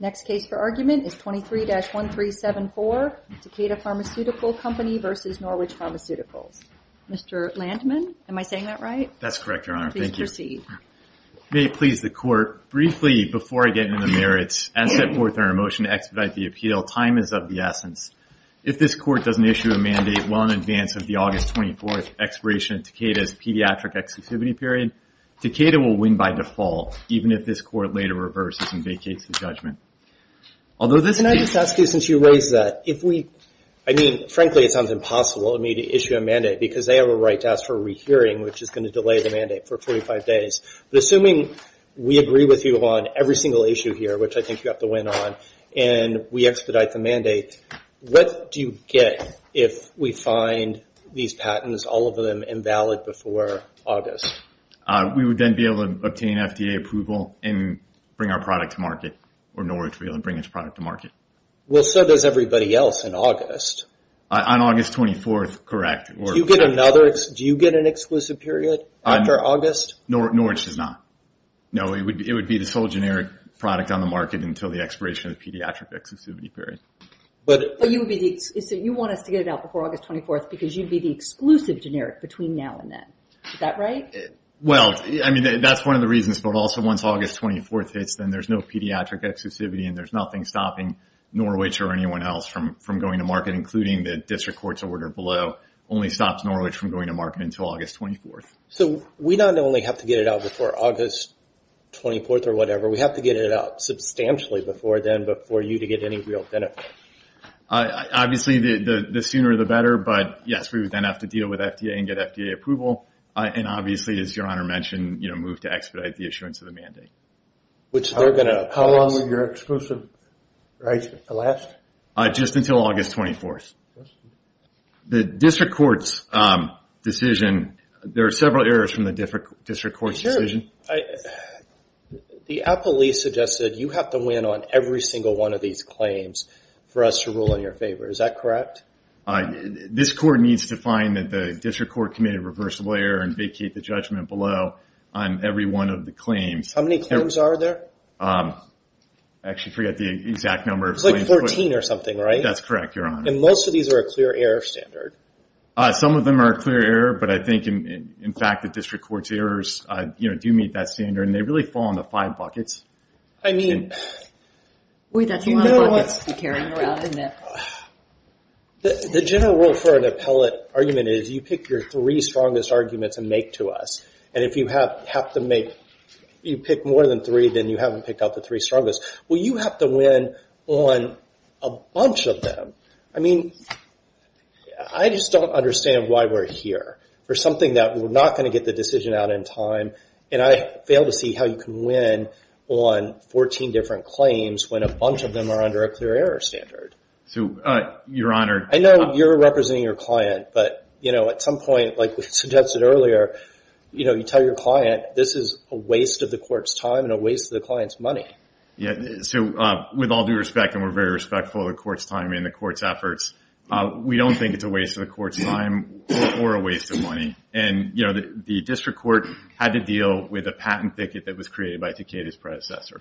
Next case for argument is 23-1374, Takeda Pharmaceutical Company v. Norwich Pharmaceuticals. Mr. Landman, am I saying that right? That's correct, Your Honor. Thank you. Please proceed. May it please the Court, briefly, before I get into the merits, as set forth in our motion to expedite the appeal, time is of the essence. If this Court doesn't issue a mandate well in advance of the August 24th expiration of Takeda's pediatric exclusivity period, Takeda will win by default, even if this Court later reverses and vacates the judgment. Although this- Can I just ask you, since you raised that, if we, I mean, frankly, it sounds impossible to me to issue a mandate because they have a right to ask for a rehearing, which is gonna delay the mandate for 45 days. But assuming we agree with you on every single issue here, which I think you have to win on, and we expedite the mandate, what do you get if we find these patents, all of them invalid before August? We would then be able to obtain FDA approval and bring our product to market, or Norwich would be able to bring its product to market. Well, so does everybody else in August. On August 24th, correct, or- Do you get another, do you get an exclusive period after August? Norwich does not. No, it would be the sole generic product on the market until the expiration of the pediatric exclusivity period. But you would be the, so you want us to get it out before August 24th because you'd be the exclusive generic between now and then, is that right? Well, I mean, that's one of the reasons, but also once August 24th hits, then there's no pediatric exclusivity and there's nothing stopping Norwich or anyone else from going to market, including the district court's order below, only stops Norwich from going to market until August 24th. So we not only have to get it out before August 24th or whatever, we have to get it out substantially before then, but for you to get any real benefit. Obviously, the sooner the better, but yes, we would then have to deal with FDA and get FDA approval. And obviously, as Your Honor mentioned, move to expedite the issuance of the mandate. Which they're gonna oppose. How long would your exclusive rights last? Just until August 24th. The district court's decision, there are several errors from the district court's decision. The appellee suggested you have to win on every single one of these claims for us to rule in your favor, is that correct? This court needs to find that the district court committed a reversible error and vacate the judgment below on every one of the claims. How many claims are there? Actually, I forget the exact number. It's like 14 or something, right? That's correct, Your Honor. And most of these are a clear error standard. Some of them are a clear error, but I think, in fact, the district court's errors do meet that standard, and they really fall into five buckets. I mean. Boy, that's a lot of buckets to be carrying around, isn't it? The general rule for an appellate argument is you pick your three strongest arguments and make to us. And if you have to make, you pick more than three, then you haven't picked out the three strongest. Well, you have to win on a bunch of them. I mean, I just don't understand why we're here for something that we're not gonna get the decision out in time, and I fail to see how you can win on 14 different claims when a bunch of them are under a clear error standard. So, Your Honor. I know you're representing your client, but at some point, like we suggested earlier, you tell your client, this is a waste of the court's time and a waste of the client's money. Yeah, so with all due respect, and we're very respectful of the court's time and the court's efforts, we don't think it's a waste of the court's time or a waste of money. And the district court had to deal with a patent ticket that was created by Takeda's predecessor.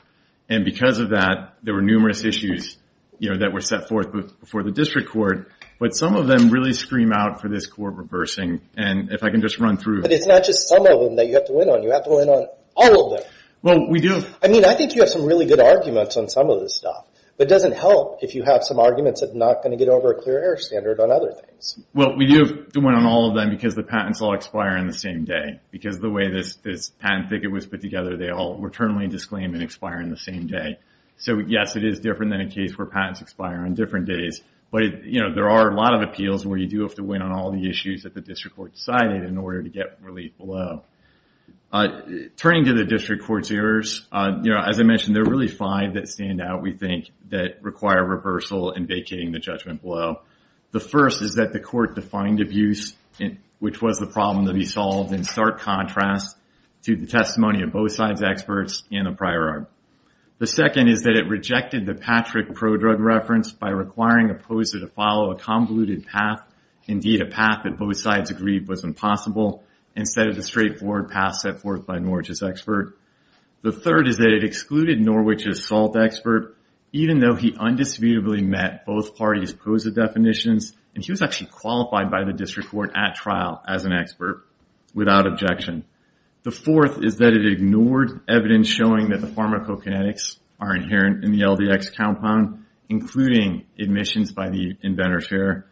And because of that, there were numerous issues that were set forth before the district court, but some of them really scream out for this court reversing. And if I can just run through. But it's not just some of them that you have to win on. You have to win on all of them. Well, we do. I mean, I think you have some really good arguments on some of this stuff, but it doesn't help if you have some arguments that are not gonna get over a clear error standard on other things. Well, we do win on all of them because the patents all expire in the same day. Because the way this patent ticket was put together, they all returnally disclaim and expire in the same day. So, yes, it is different than a case where patents expire on different days. But there are a lot of appeals where you do have to win on all the issues that the district court decided in order to get relief below. Turning to the district court's errors, as I mentioned, they're really five that stand out, we think, that require reversal in vacating the judgment below. The first is that the court defined abuse, which was the problem to be solved, in stark contrast to the testimony of both sides' experts in the prior art. The second is that it rejected the Patrick prodrug reference by requiring a POSA to follow a convoluted path, indeed a path that both sides agreed was impossible, instead of the straightforward path set forth by Norwich's expert. The third is that it excluded Norwich's SALT expert, even though he undisputably met both parties' POSA definitions, and he was actually qualified by the district court at trial as an expert, without objection. The fourth is that it ignored evidence showing that the pharmacokinetics are inherent in the LDX compound, including admissions by the inventor's fair.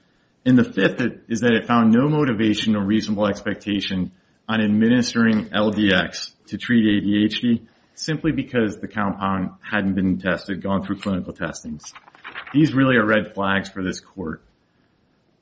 And the fifth is that it found no motivation or reasonable expectation on administering LDX to treat ADHD, simply because the compound hadn't been tested, gone through clinical testings. These really are red flags for this court.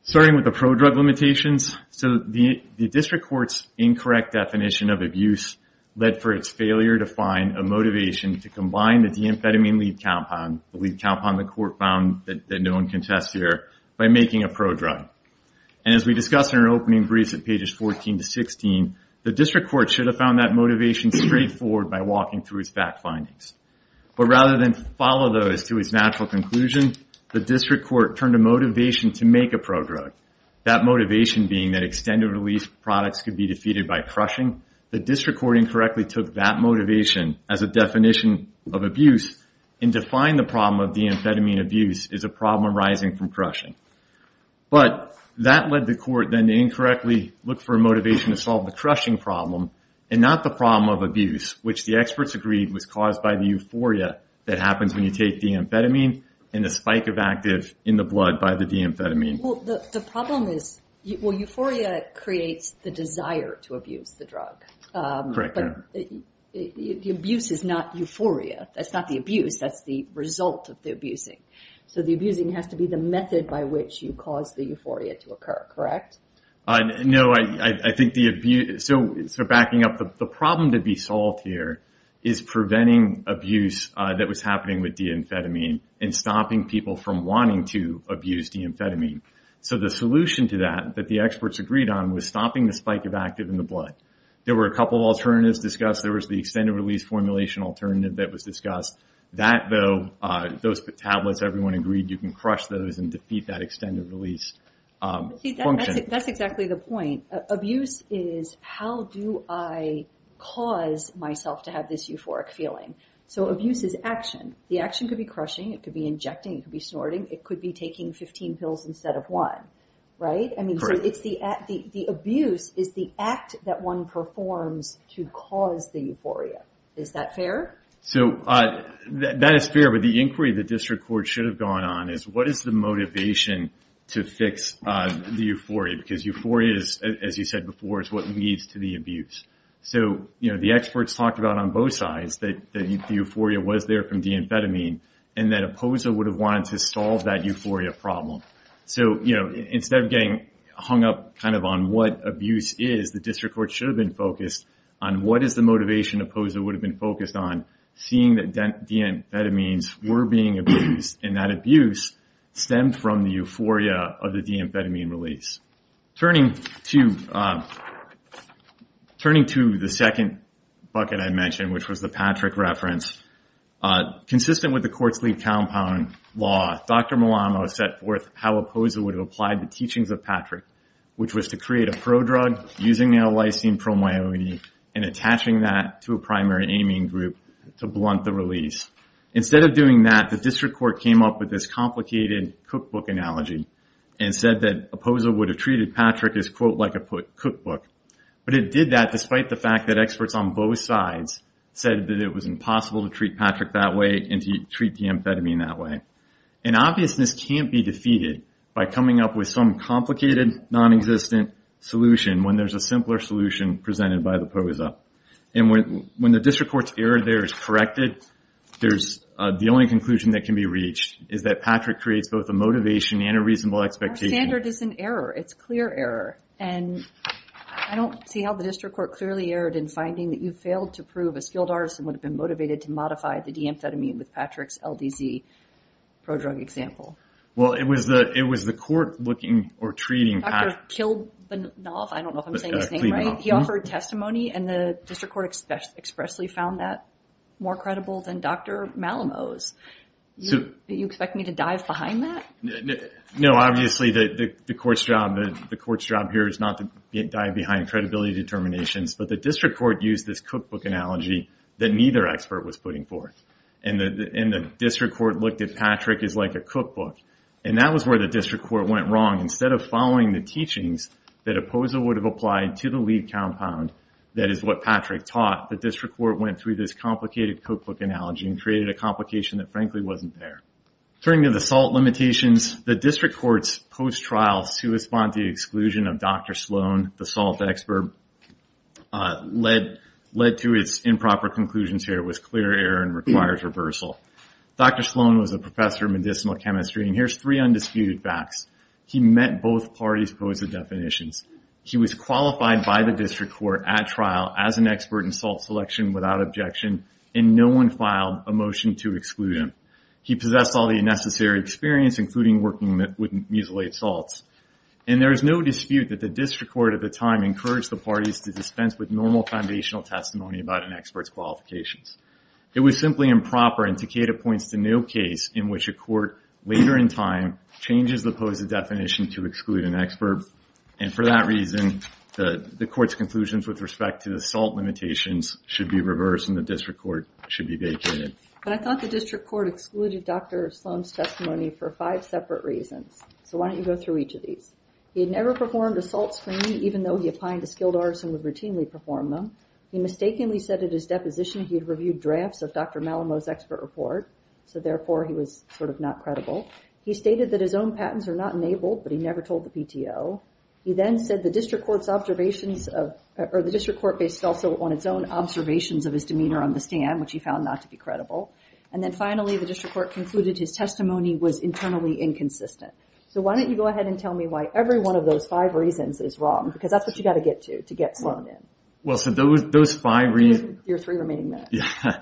Starting with the prodrug limitations, so the district court's incorrect definition of abuse led for its failure to find a motivation to combine the deamphetamine lead compound, the lead compound the court found that no one can test here, by making a prodrug. And as we discussed in our opening briefs at pages 14 to 16, the district court should have found that motivation straightforward by walking through its fact findings. But rather than follow those to its natural conclusion, the district court turned to motivation to make a prodrug, that motivation being that extended-release products could be defeated by crushing. The district court incorrectly took that motivation as a definition of abuse, and defined the problem of deamphetamine abuse as a problem arising from crushing. But that led the court then to incorrectly look for a motivation to solve the crushing problem, and not the problem of abuse, which the experts agreed was caused by the euphoria that happens when you take deamphetamine, and the spike of active in the blood by the deamphetamine. the desire to abuse the drug. But the abuse is not euphoria, that's not the abuse, that's the result of the abusing. So the abusing has to be the method by which you cause the euphoria to occur, correct? No, I think the abuse, so backing up, the problem to be solved here is preventing abuse that was happening with deamphetamine, and stopping people from wanting to abuse deamphetamine. So the solution to that, that the experts agreed on, was stopping the spike of active in the blood. There were a couple of alternatives discussed, there was the extended release formulation alternative that was discussed, that though, those tablets, everyone agreed you can crush those and defeat that extended release function. That's exactly the point, abuse is how do I cause myself to have this euphoric feeling? So abuse is action, the action could be crushing, it could be injecting, it could be snorting, it could be taking 15 pills instead of one, right? I mean, so the abuse is the act that one performs to cause the euphoria, is that fair? So that is fair, but the inquiry the district court should have gone on is what is the motivation to fix the euphoria, because euphoria is, as you said before, is what leads to the abuse. So the experts talked about on both sides that the euphoria was there from deamphetamine, and that a POSA would have wanted to solve that euphoria problem. So instead of getting hung up kind of on what abuse is, the district court should have been focused on what is the motivation a POSA would have been focused on, seeing that deamphetamines were being abused, and that abuse stemmed from the euphoria of the deamphetamine release. Turning to the second bucket I mentioned, which was the Patrick reference, consistent with the court's lead compound law, Dr. Malamo set forth how a POSA would have applied the teachings of Patrick, which was to create a prodrug using nalysine promyelone and attaching that to a primary amine group to blunt the release. Instead of doing that, the district court came up with this complicated cookbook analogy and said that a POSA would have treated Patrick as quote, like a cookbook, but it did that despite the fact that experts on both sides said that it was impossible to treat Patrick that way and to treat deamphetamine that way. And obviousness can't be defeated by coming up with some complicated, non-existent solution when there's a simpler solution presented by the POSA. And when the district court's error there is corrected, there's the only conclusion that can be reached is that Patrick creates both a motivation and a reasonable expectation. Our standard is an error, it's clear error. And I don't see how the district court clearly erred in finding that you failed to prove a skilled artisan would have been motivated to modify the deamphetamine with Patrick's LDZ pro-drug example. Well, it was the court looking or treating Patrick. Dr. Kilbanov, I don't know if I'm saying his name right, he offered testimony and the district court expressly found that more credible than Dr. Malamose. You expect me to dive behind that? No, obviously the court's job here is not to dive behind credibility determinations, but the district court used this cookbook analogy that neither expert was putting forth. And the district court looked at Patrick as like a cookbook. And that was where the district court went wrong. Instead of following the teachings that a POSA would have applied to the lead compound, that is what Patrick taught, the district court went through this complicated cookbook analogy and created a complication that frankly wasn't there. Turning to the salt limitations, the district court's post-trial sui sponte exclusion of Dr. Sloan, the salt expert, led to its improper conclusions here with clear error and required reversal. Dr. Sloan was a professor of medicinal chemistry, and here's three undisputed facts. He met both parties' POSA definitions. He was qualified by the district court at trial as an expert in salt selection without objection, and no one filed a motion to exclude him. He possessed all the necessary experience, including working with mucilate salts. And there is no dispute that the district court at the time encouraged the parties to dispense with normal foundational testimony about an expert's qualifications. It was simply improper, and Takeda points to no case in which a court, later in time, changes the POSA definition to exclude an expert, and for that reason, the court's conclusions with respect to the salt limitations should be reversed, and the district court should be vacated. But I thought the district court excluded Dr. Sloan's testimony for five separate reasons. So why don't you go through each of these? He had never performed a salt screening, even though he applied to skilled artists and would routinely perform them. He mistakenly said at his deposition he had reviewed drafts of Dr. Malamot's expert report, so therefore, he was sort of not credible. He stated that his own patents are not enabled, but he never told the PTO. He then said the district court's observations of, or the district court based also on its own observations of his demeanor on the stand, which he found not to be credible. And then finally, the district court concluded his testimony was internally inconsistent. So why don't you go ahead and tell me why every one of those five reasons is wrong, because that's what you gotta get to, to get Sloan in. Well, so those five reasons. Your three remaining minutes. Yeah,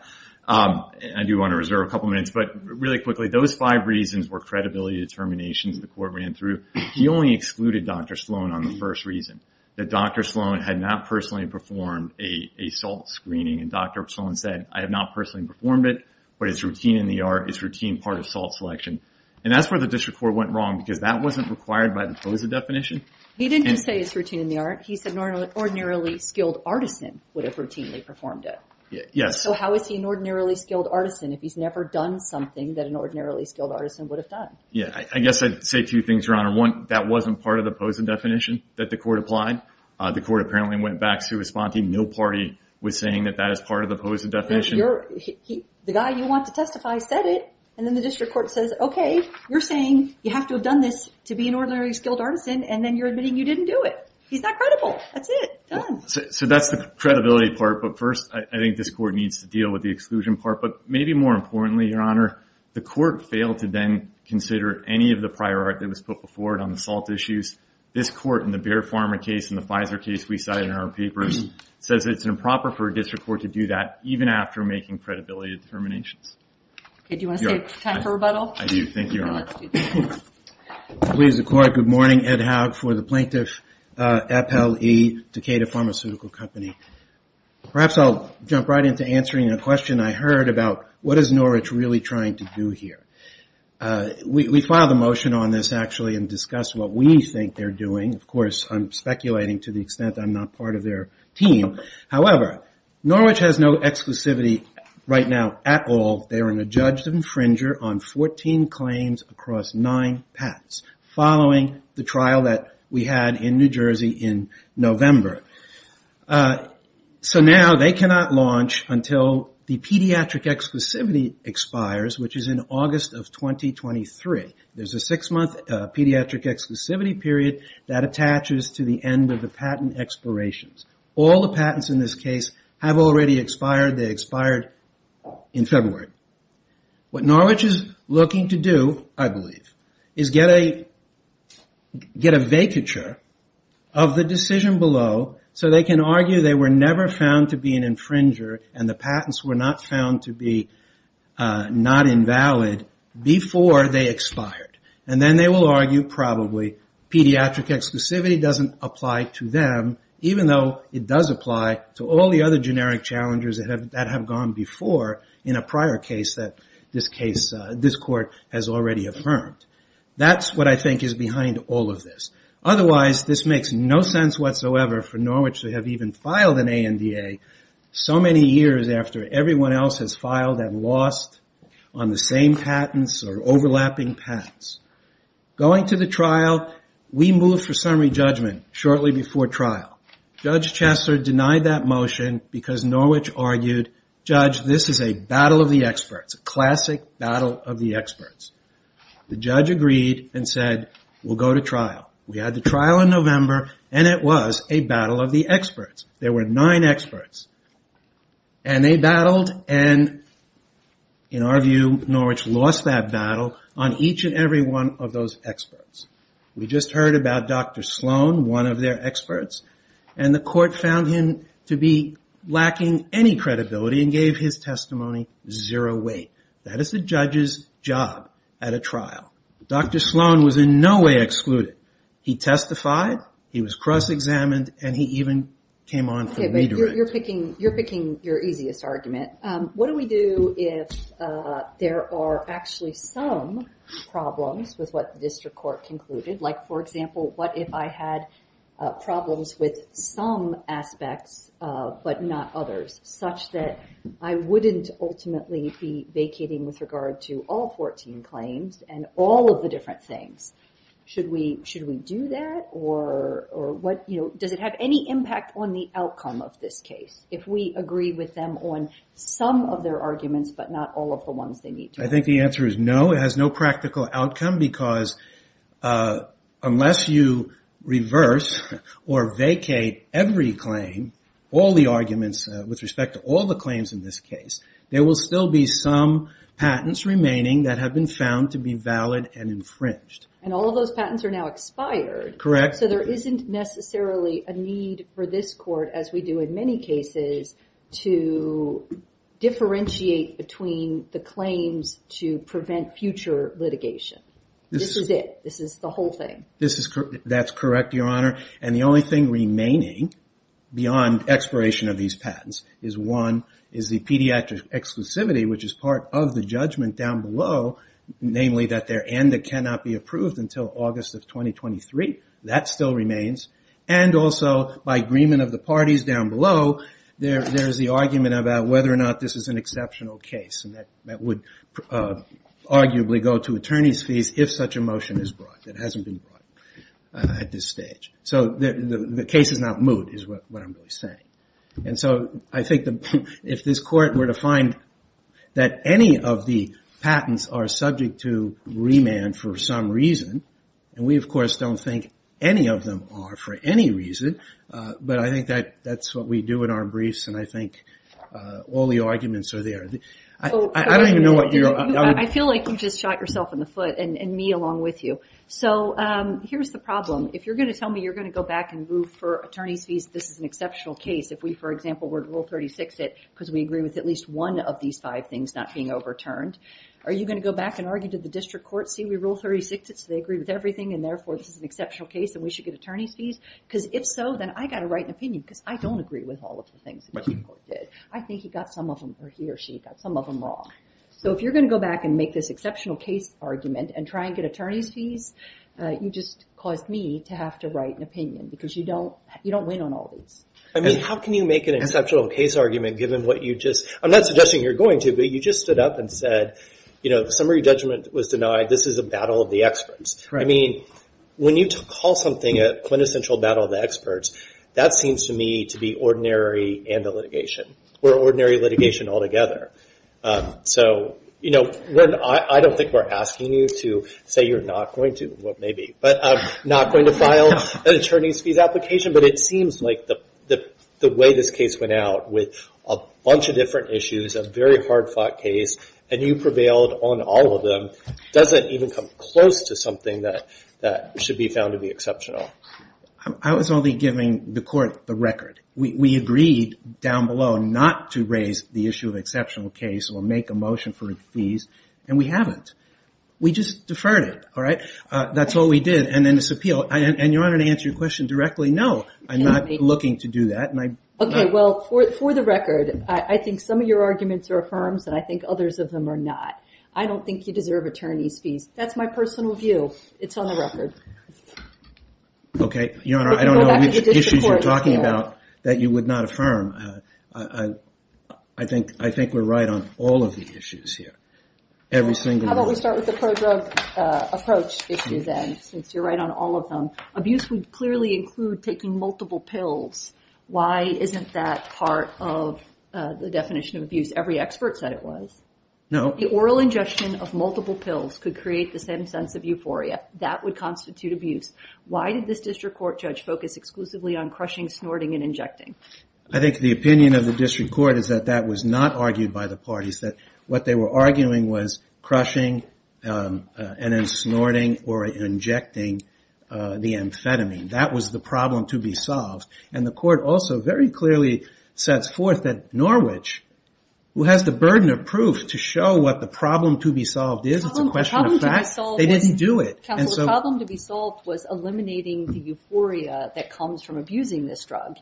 I do wanna reserve a couple minutes, but really quickly, those five reasons were credibility determinations the court ran through. He only excluded Dr. Sloan on the first reason, that Dr. Sloan had not personally performed a salt screening, and Dr. Sloan said, I have not personally performed it, but it's routine in the art, it's routine part of salt selection. And that's where the district court went wrong, because that wasn't required by the POSA definition. He didn't just say it's routine in the art, he said an ordinarily skilled artisan would have routinely performed it. Yes. So how is he an ordinarily skilled artisan if he's never done something that an ordinarily skilled artisan would have done? Yeah, I guess I'd say two things, Your Honor. One, that wasn't part of the POSA definition that the court applied. The court apparently went back to responding, no party was saying that that is part of the POSA definition. The guy you want to testify said it, and then the district court says, okay, you're saying you have to have done this to be an ordinarily skilled artisan, and then you're admitting you didn't do it. He's not credible. That's it, done. So that's the credibility part, but first I think this court needs to deal with the exclusion part. But maybe more importantly, Your Honor, the court failed to then consider any of the prior art that was put before it on the salt issues. This court in the Bear Farmer case and the Pfizer case we cited in our papers says it's improper for a district court to do that even after making credibility determinations. Okay, do you want to save time for rebuttal? I do, thank you, Your Honor. Please, the court. Good morning, Ed Haug for the Plaintiff, Appell E. Decatur Pharmaceutical Company. Perhaps I'll jump right into answering a question I heard about what is Norwich really trying to do here. We filed a motion on this, actually, and discussed what we think they're doing. Of course, I'm speculating to the extent I'm not part of their team. However, Norwich has no exclusivity right now at all. They are an adjudged infringer on 14 claims across nine patents following the trial that we had in New Jersey in November. So now they cannot launch until the pediatric exclusivity expires, which is in August of 2023. There's a six-month pediatric exclusivity period that attaches to the end of the patent expirations. All the patents in this case have already expired. They expired in February. What Norwich is looking to do, I believe, is get a vacature of the decision below so they can argue they were never found to be an infringer and the patents were not found to be not invalid before they expired. And then they will argue, probably, pediatric exclusivity doesn't apply to them, even though it does apply to all the other generic challengers that have gone before in a prior case that this court has already affirmed. That's what I think is behind all of this. Otherwise, this makes no sense whatsoever for Norwich to have even filed an ANDA so many years after everyone else has filed and lost on the same patents or overlapping patents. Going to the trial, we moved for summary judgment shortly before trial. Judge Chester denied that motion because Norwich argued, Judge, this is a battle of the experts, a classic battle of the experts. The judge agreed and said, we'll go to trial. We had the trial in November and it was a battle of the experts. There were nine experts and they battled and, in our view, Norwich lost that battle on each and every one of those experts. We just heard about Dr. Sloan, one of their experts, and the court found him to be lacking any credibility and gave his testimony zero weight. That is a judge's job at a trial. Dr. Sloan was in no way excluded. He testified, he was cross-examined, and he even came on for redirection. You're picking your easiest argument. What do we do if there are actually some problems with what the district court concluded? Like, for example, what if I had problems with some aspects but not others, such that I wouldn't ultimately be vacating with regard to all 14 claims and all of the different things? Should we do that or does it have any impact on the outcome of this case if we agree with them on some of their arguments but not all of the ones they need to? I think the answer is no. It has no practical outcome because unless you reverse or vacate every claim, all the arguments with respect to all the claims in this case, there will still be some patents remaining that have been found to be valid and infringed. And all of those patents are now expired. Correct. So there isn't necessarily a need for this court, as we do in many cases, to differentiate between the claims to prevent future litigation. This is it. This is the whole thing. That's correct, Your Honor. And the only thing remaining beyond expiration of these patents is one, is the pediatric exclusivity, which is part of the judgment down below, namely that they're and that cannot be approved until August of 2023. That still remains. And also, by agreement of the parties down below, there's the argument about whether or not this is an exceptional case and that would arguably go to attorney's fees if such a motion is brought. It hasn't been brought at this stage. So the case is not moot is what I'm really saying. And so I think if this court were to find that any of the patents are subject to remand for some reason, and we, of course, don't think any of them are for any reason, but I think that's what we do in our briefs and I think all the arguments are there. I don't even know what you're... I feel like you just shot yourself in the foot and me along with you. So here's the problem. If you're gonna tell me you're gonna go back and move for attorney's fees, this is an exceptional case. If we, for example, were to rule 36 it because we agree with at least one of these five things not being overturned, are you gonna go back and argue to the district court, see we rule 36 it so they agree with everything and we should get attorney's fees? Because if so, then I gotta write an opinion because I don't agree with all of the things that the district court did. I think he got some of them, or he or she, got some of them wrong. So if you're gonna go back and make this exceptional case argument and try and get attorney's fees, you just caused me to have to write an opinion because you don't win on all these. I mean, how can you make an exceptional case argument given what you just... I'm not suggesting you're going to, but you just stood up and said, This is a battle of the experts. I mean, when you call something a quintessential battle of the experts, that seems to me to be ordinary and a litigation. We're ordinary litigation altogether. So I don't think we're asking you to say you're not going to, well maybe, but not going to file an attorney's fees application, but it seems like the way this case went out with a bunch of different issues, a very hard fought case, and you prevailed on all of them, doesn't even come close to something that should be found to be exceptional. I was only giving the court the record. We agreed down below not to raise the issue of exceptional case or make a motion for fees, and we haven't. We just deferred it, all right? That's all we did, and then this appeal, and Your Honor, to answer your question directly, no, I'm not looking to do that. Okay, well, for the record, I think some of your arguments are affirms and I think others of them are not. I don't think you deserve attorney's fees. That's my personal view. It's on the record. Okay, Your Honor, I don't know which issues you're talking about that you would not affirm. I think we're right on all of the issues here. Every single one. How about we start with the pro-drug approach issue then, since you're right on all of them. Abuse would clearly include taking multiple pills. Why isn't that part of the definition of abuse? Every expert said it was. No. The oral ingestion of multiple pills could create the same sense of euphoria. That would constitute abuse. Why did this district court judge focus exclusively on crushing, snorting, and injecting? I think the opinion of the district court is that that was not argued by the parties, that what they were arguing was crushing and then snorting or injecting the amphetamine. That was the problem to be solved. And the court also very clearly sets forth that Norwich, who has the burden of proof to show what the problem to be solved is, it's a question of fact, they didn't do it. Counselor, the problem to be solved was eliminating the euphoria that comes from abusing this drug.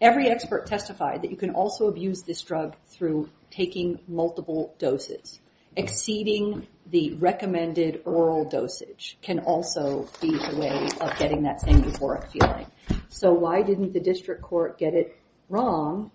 Every expert testified that you can also abuse this drug through taking multiple doses. Exceeding the recommended oral dosage can also be a way of getting that same euphoric feeling. So why didn't the district court get it wrong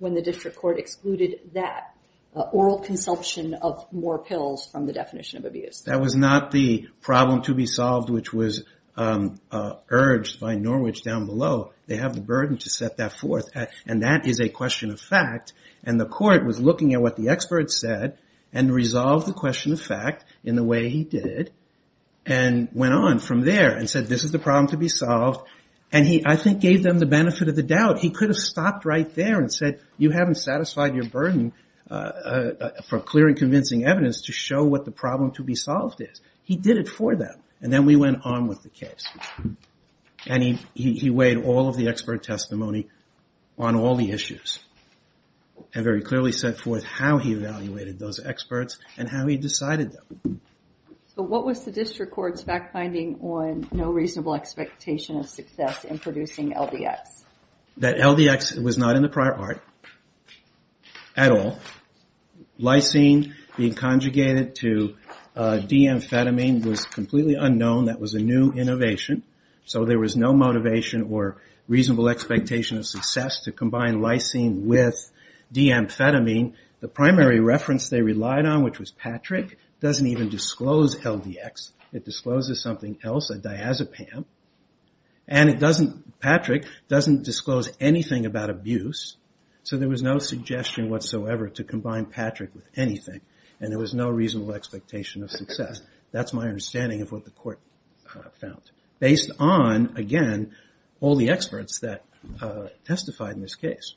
oral consumption of more pills from the definition of abuse? That was not the problem to be solved which was urged by Norwich down below. They have the burden to set that forth and that is a question of fact. And the court was looking at what the expert said and resolved the question of fact in the way he did and went on from there and said, this is the problem to be solved. And he, I think, gave them the benefit of the doubt. He could have stopped right there and said, you haven't satisfied your burden for clear and convincing evidence to show what the problem to be solved is. He did it for them. And then we went on with the case. And he weighed all of the expert testimony on all the issues and very clearly set forth how he evaluated those experts and how he decided them. So what was the district court's fact finding on no reasonable expectation of success in producing LDX? That LDX was not in the prior art at all. Lysine being conjugated to D-amphetamine was completely unknown. That was a new innovation. So there was no motivation or reasonable expectation of success to combine lysine with D-amphetamine. The primary reference they relied on, which was Patrick, doesn't even disclose LDX. It discloses something else, a diazepam. And it doesn't, Patrick doesn't disclose anything about abuse. So there was no suggestion whatsoever to combine Patrick with anything. And there was no reasonable expectation of success. That's my understanding of what the court found. Based on, again, all the experts that testified in this case.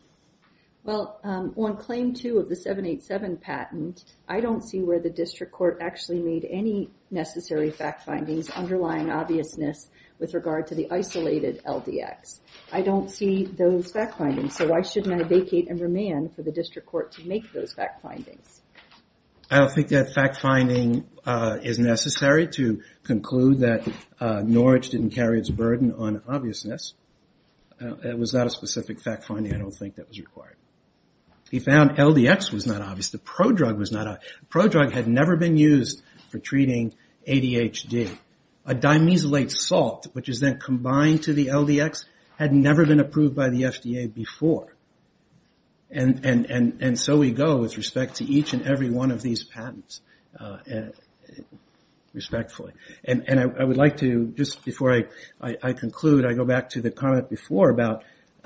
Well, on claim two of the 787 patent, I don't see where the district court actually made any necessary fact findings underlying obviousness with regard to the isolated LDX. I don't see those fact findings. So why shouldn't I vacate and remand for the district court to make those fact findings? I don't think that fact finding is necessary to conclude that Norwich didn't carry its burden on obviousness. It was not a specific fact finding, I don't think that was required. He found LDX was not obvious, the prodrug was not obvious. Prodrug had never been used for treating ADHD. A dimethylate salt, which is then combined to the LDX, had never been approved by the FDA before. And so we go with respect to each and every one of these patents, respectfully. And I would like to, just before I conclude, I go back to the comment before about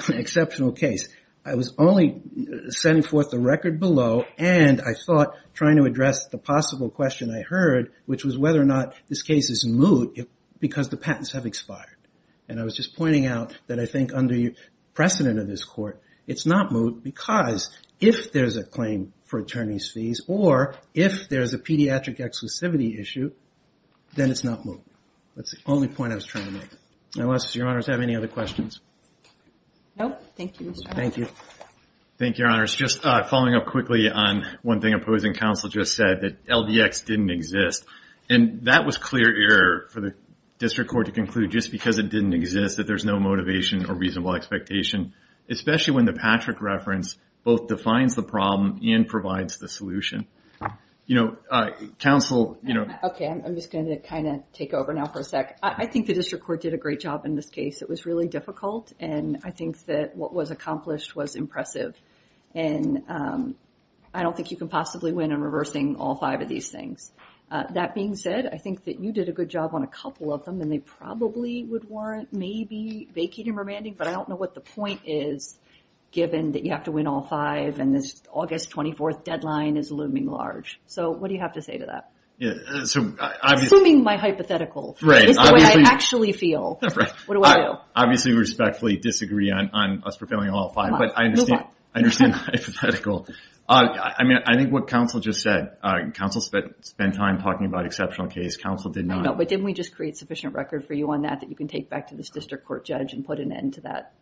exceptional case. I was only sending forth the record below, and I thought, trying to address the possible question I heard, which was whether or not this case is moot because the patents have expired. And I was just pointing out that I think under the precedent of this court, it's not moot because if there's a claim for attorney's fees, or if there's a pediatric exclusivity issue, then it's not moot. That's the only point I was trying to make. Unless your honors have any other questions. No, thank you, Mr. Arnott. Thank you. Thank you, your honors. Just following up quickly on one thing opposing counsel just said, that LDX didn't exist. And that was clear error for the district court to conclude just because it didn't exist that there's no motivation or reasonable expectation. Especially when the Patrick reference both defines the problem and provides the solution. Counsel, you know. Okay, I'm just gonna kind of take over now for a sec. I think the district court did a great job in this case. It was really difficult. And I think that what was accomplished was impressive. And I don't think you can possibly win in reversing all five of these things. That being said, I think that you did a good job on a couple of them, and they probably would warrant maybe vacating or remanding. But I don't know what the point is, given that you have to win all five. And this August 24th deadline is looming large. So what do you have to say to that? Assuming my hypothetical is the way I actually feel. What do I do? I obviously respectfully disagree on us fulfilling all five. But I understand hypothetical. I mean, I think what counsel just said. Counsel spent time talking about exceptional case. Counsel did not. No, but didn't we just create sufficient record for you on that that you can take back to this district court judge and put an end to that?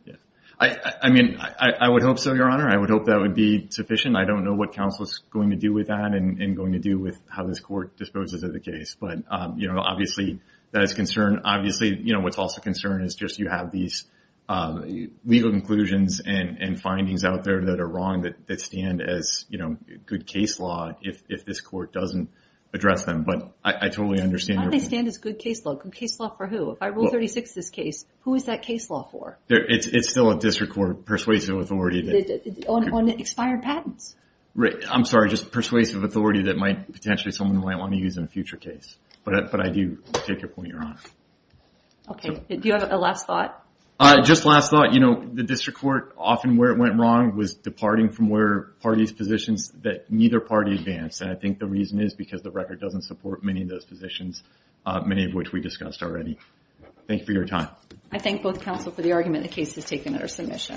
I mean, I would hope so, Your Honor. I would hope that would be sufficient. I don't know what counsel is going to do with that and going to do with how this court disposes of the case. But obviously, that is a concern. Obviously, what's also a concern is just you have these legal conclusions and findings out there that are wrong, that stand as good case law if this court doesn't address them. But I totally understand. How do they stand as good case law? Case law for who? If I rule 36 this case, who is that case law for? It's still a district court persuasive authority. On expired patents? I'm sorry, just persuasive authority that potentially someone might want to use in a future case. But I do take your point, Your Honor. Okay, do you have a last thought? Just last thought. The district court, often where it went wrong was departing from where parties' positions that neither party advanced. And I think the reason is because the record doesn't support many of those positions, many of which we discussed already. Thank you for your time. I thank both counsel for the argument the case has taken at our submission.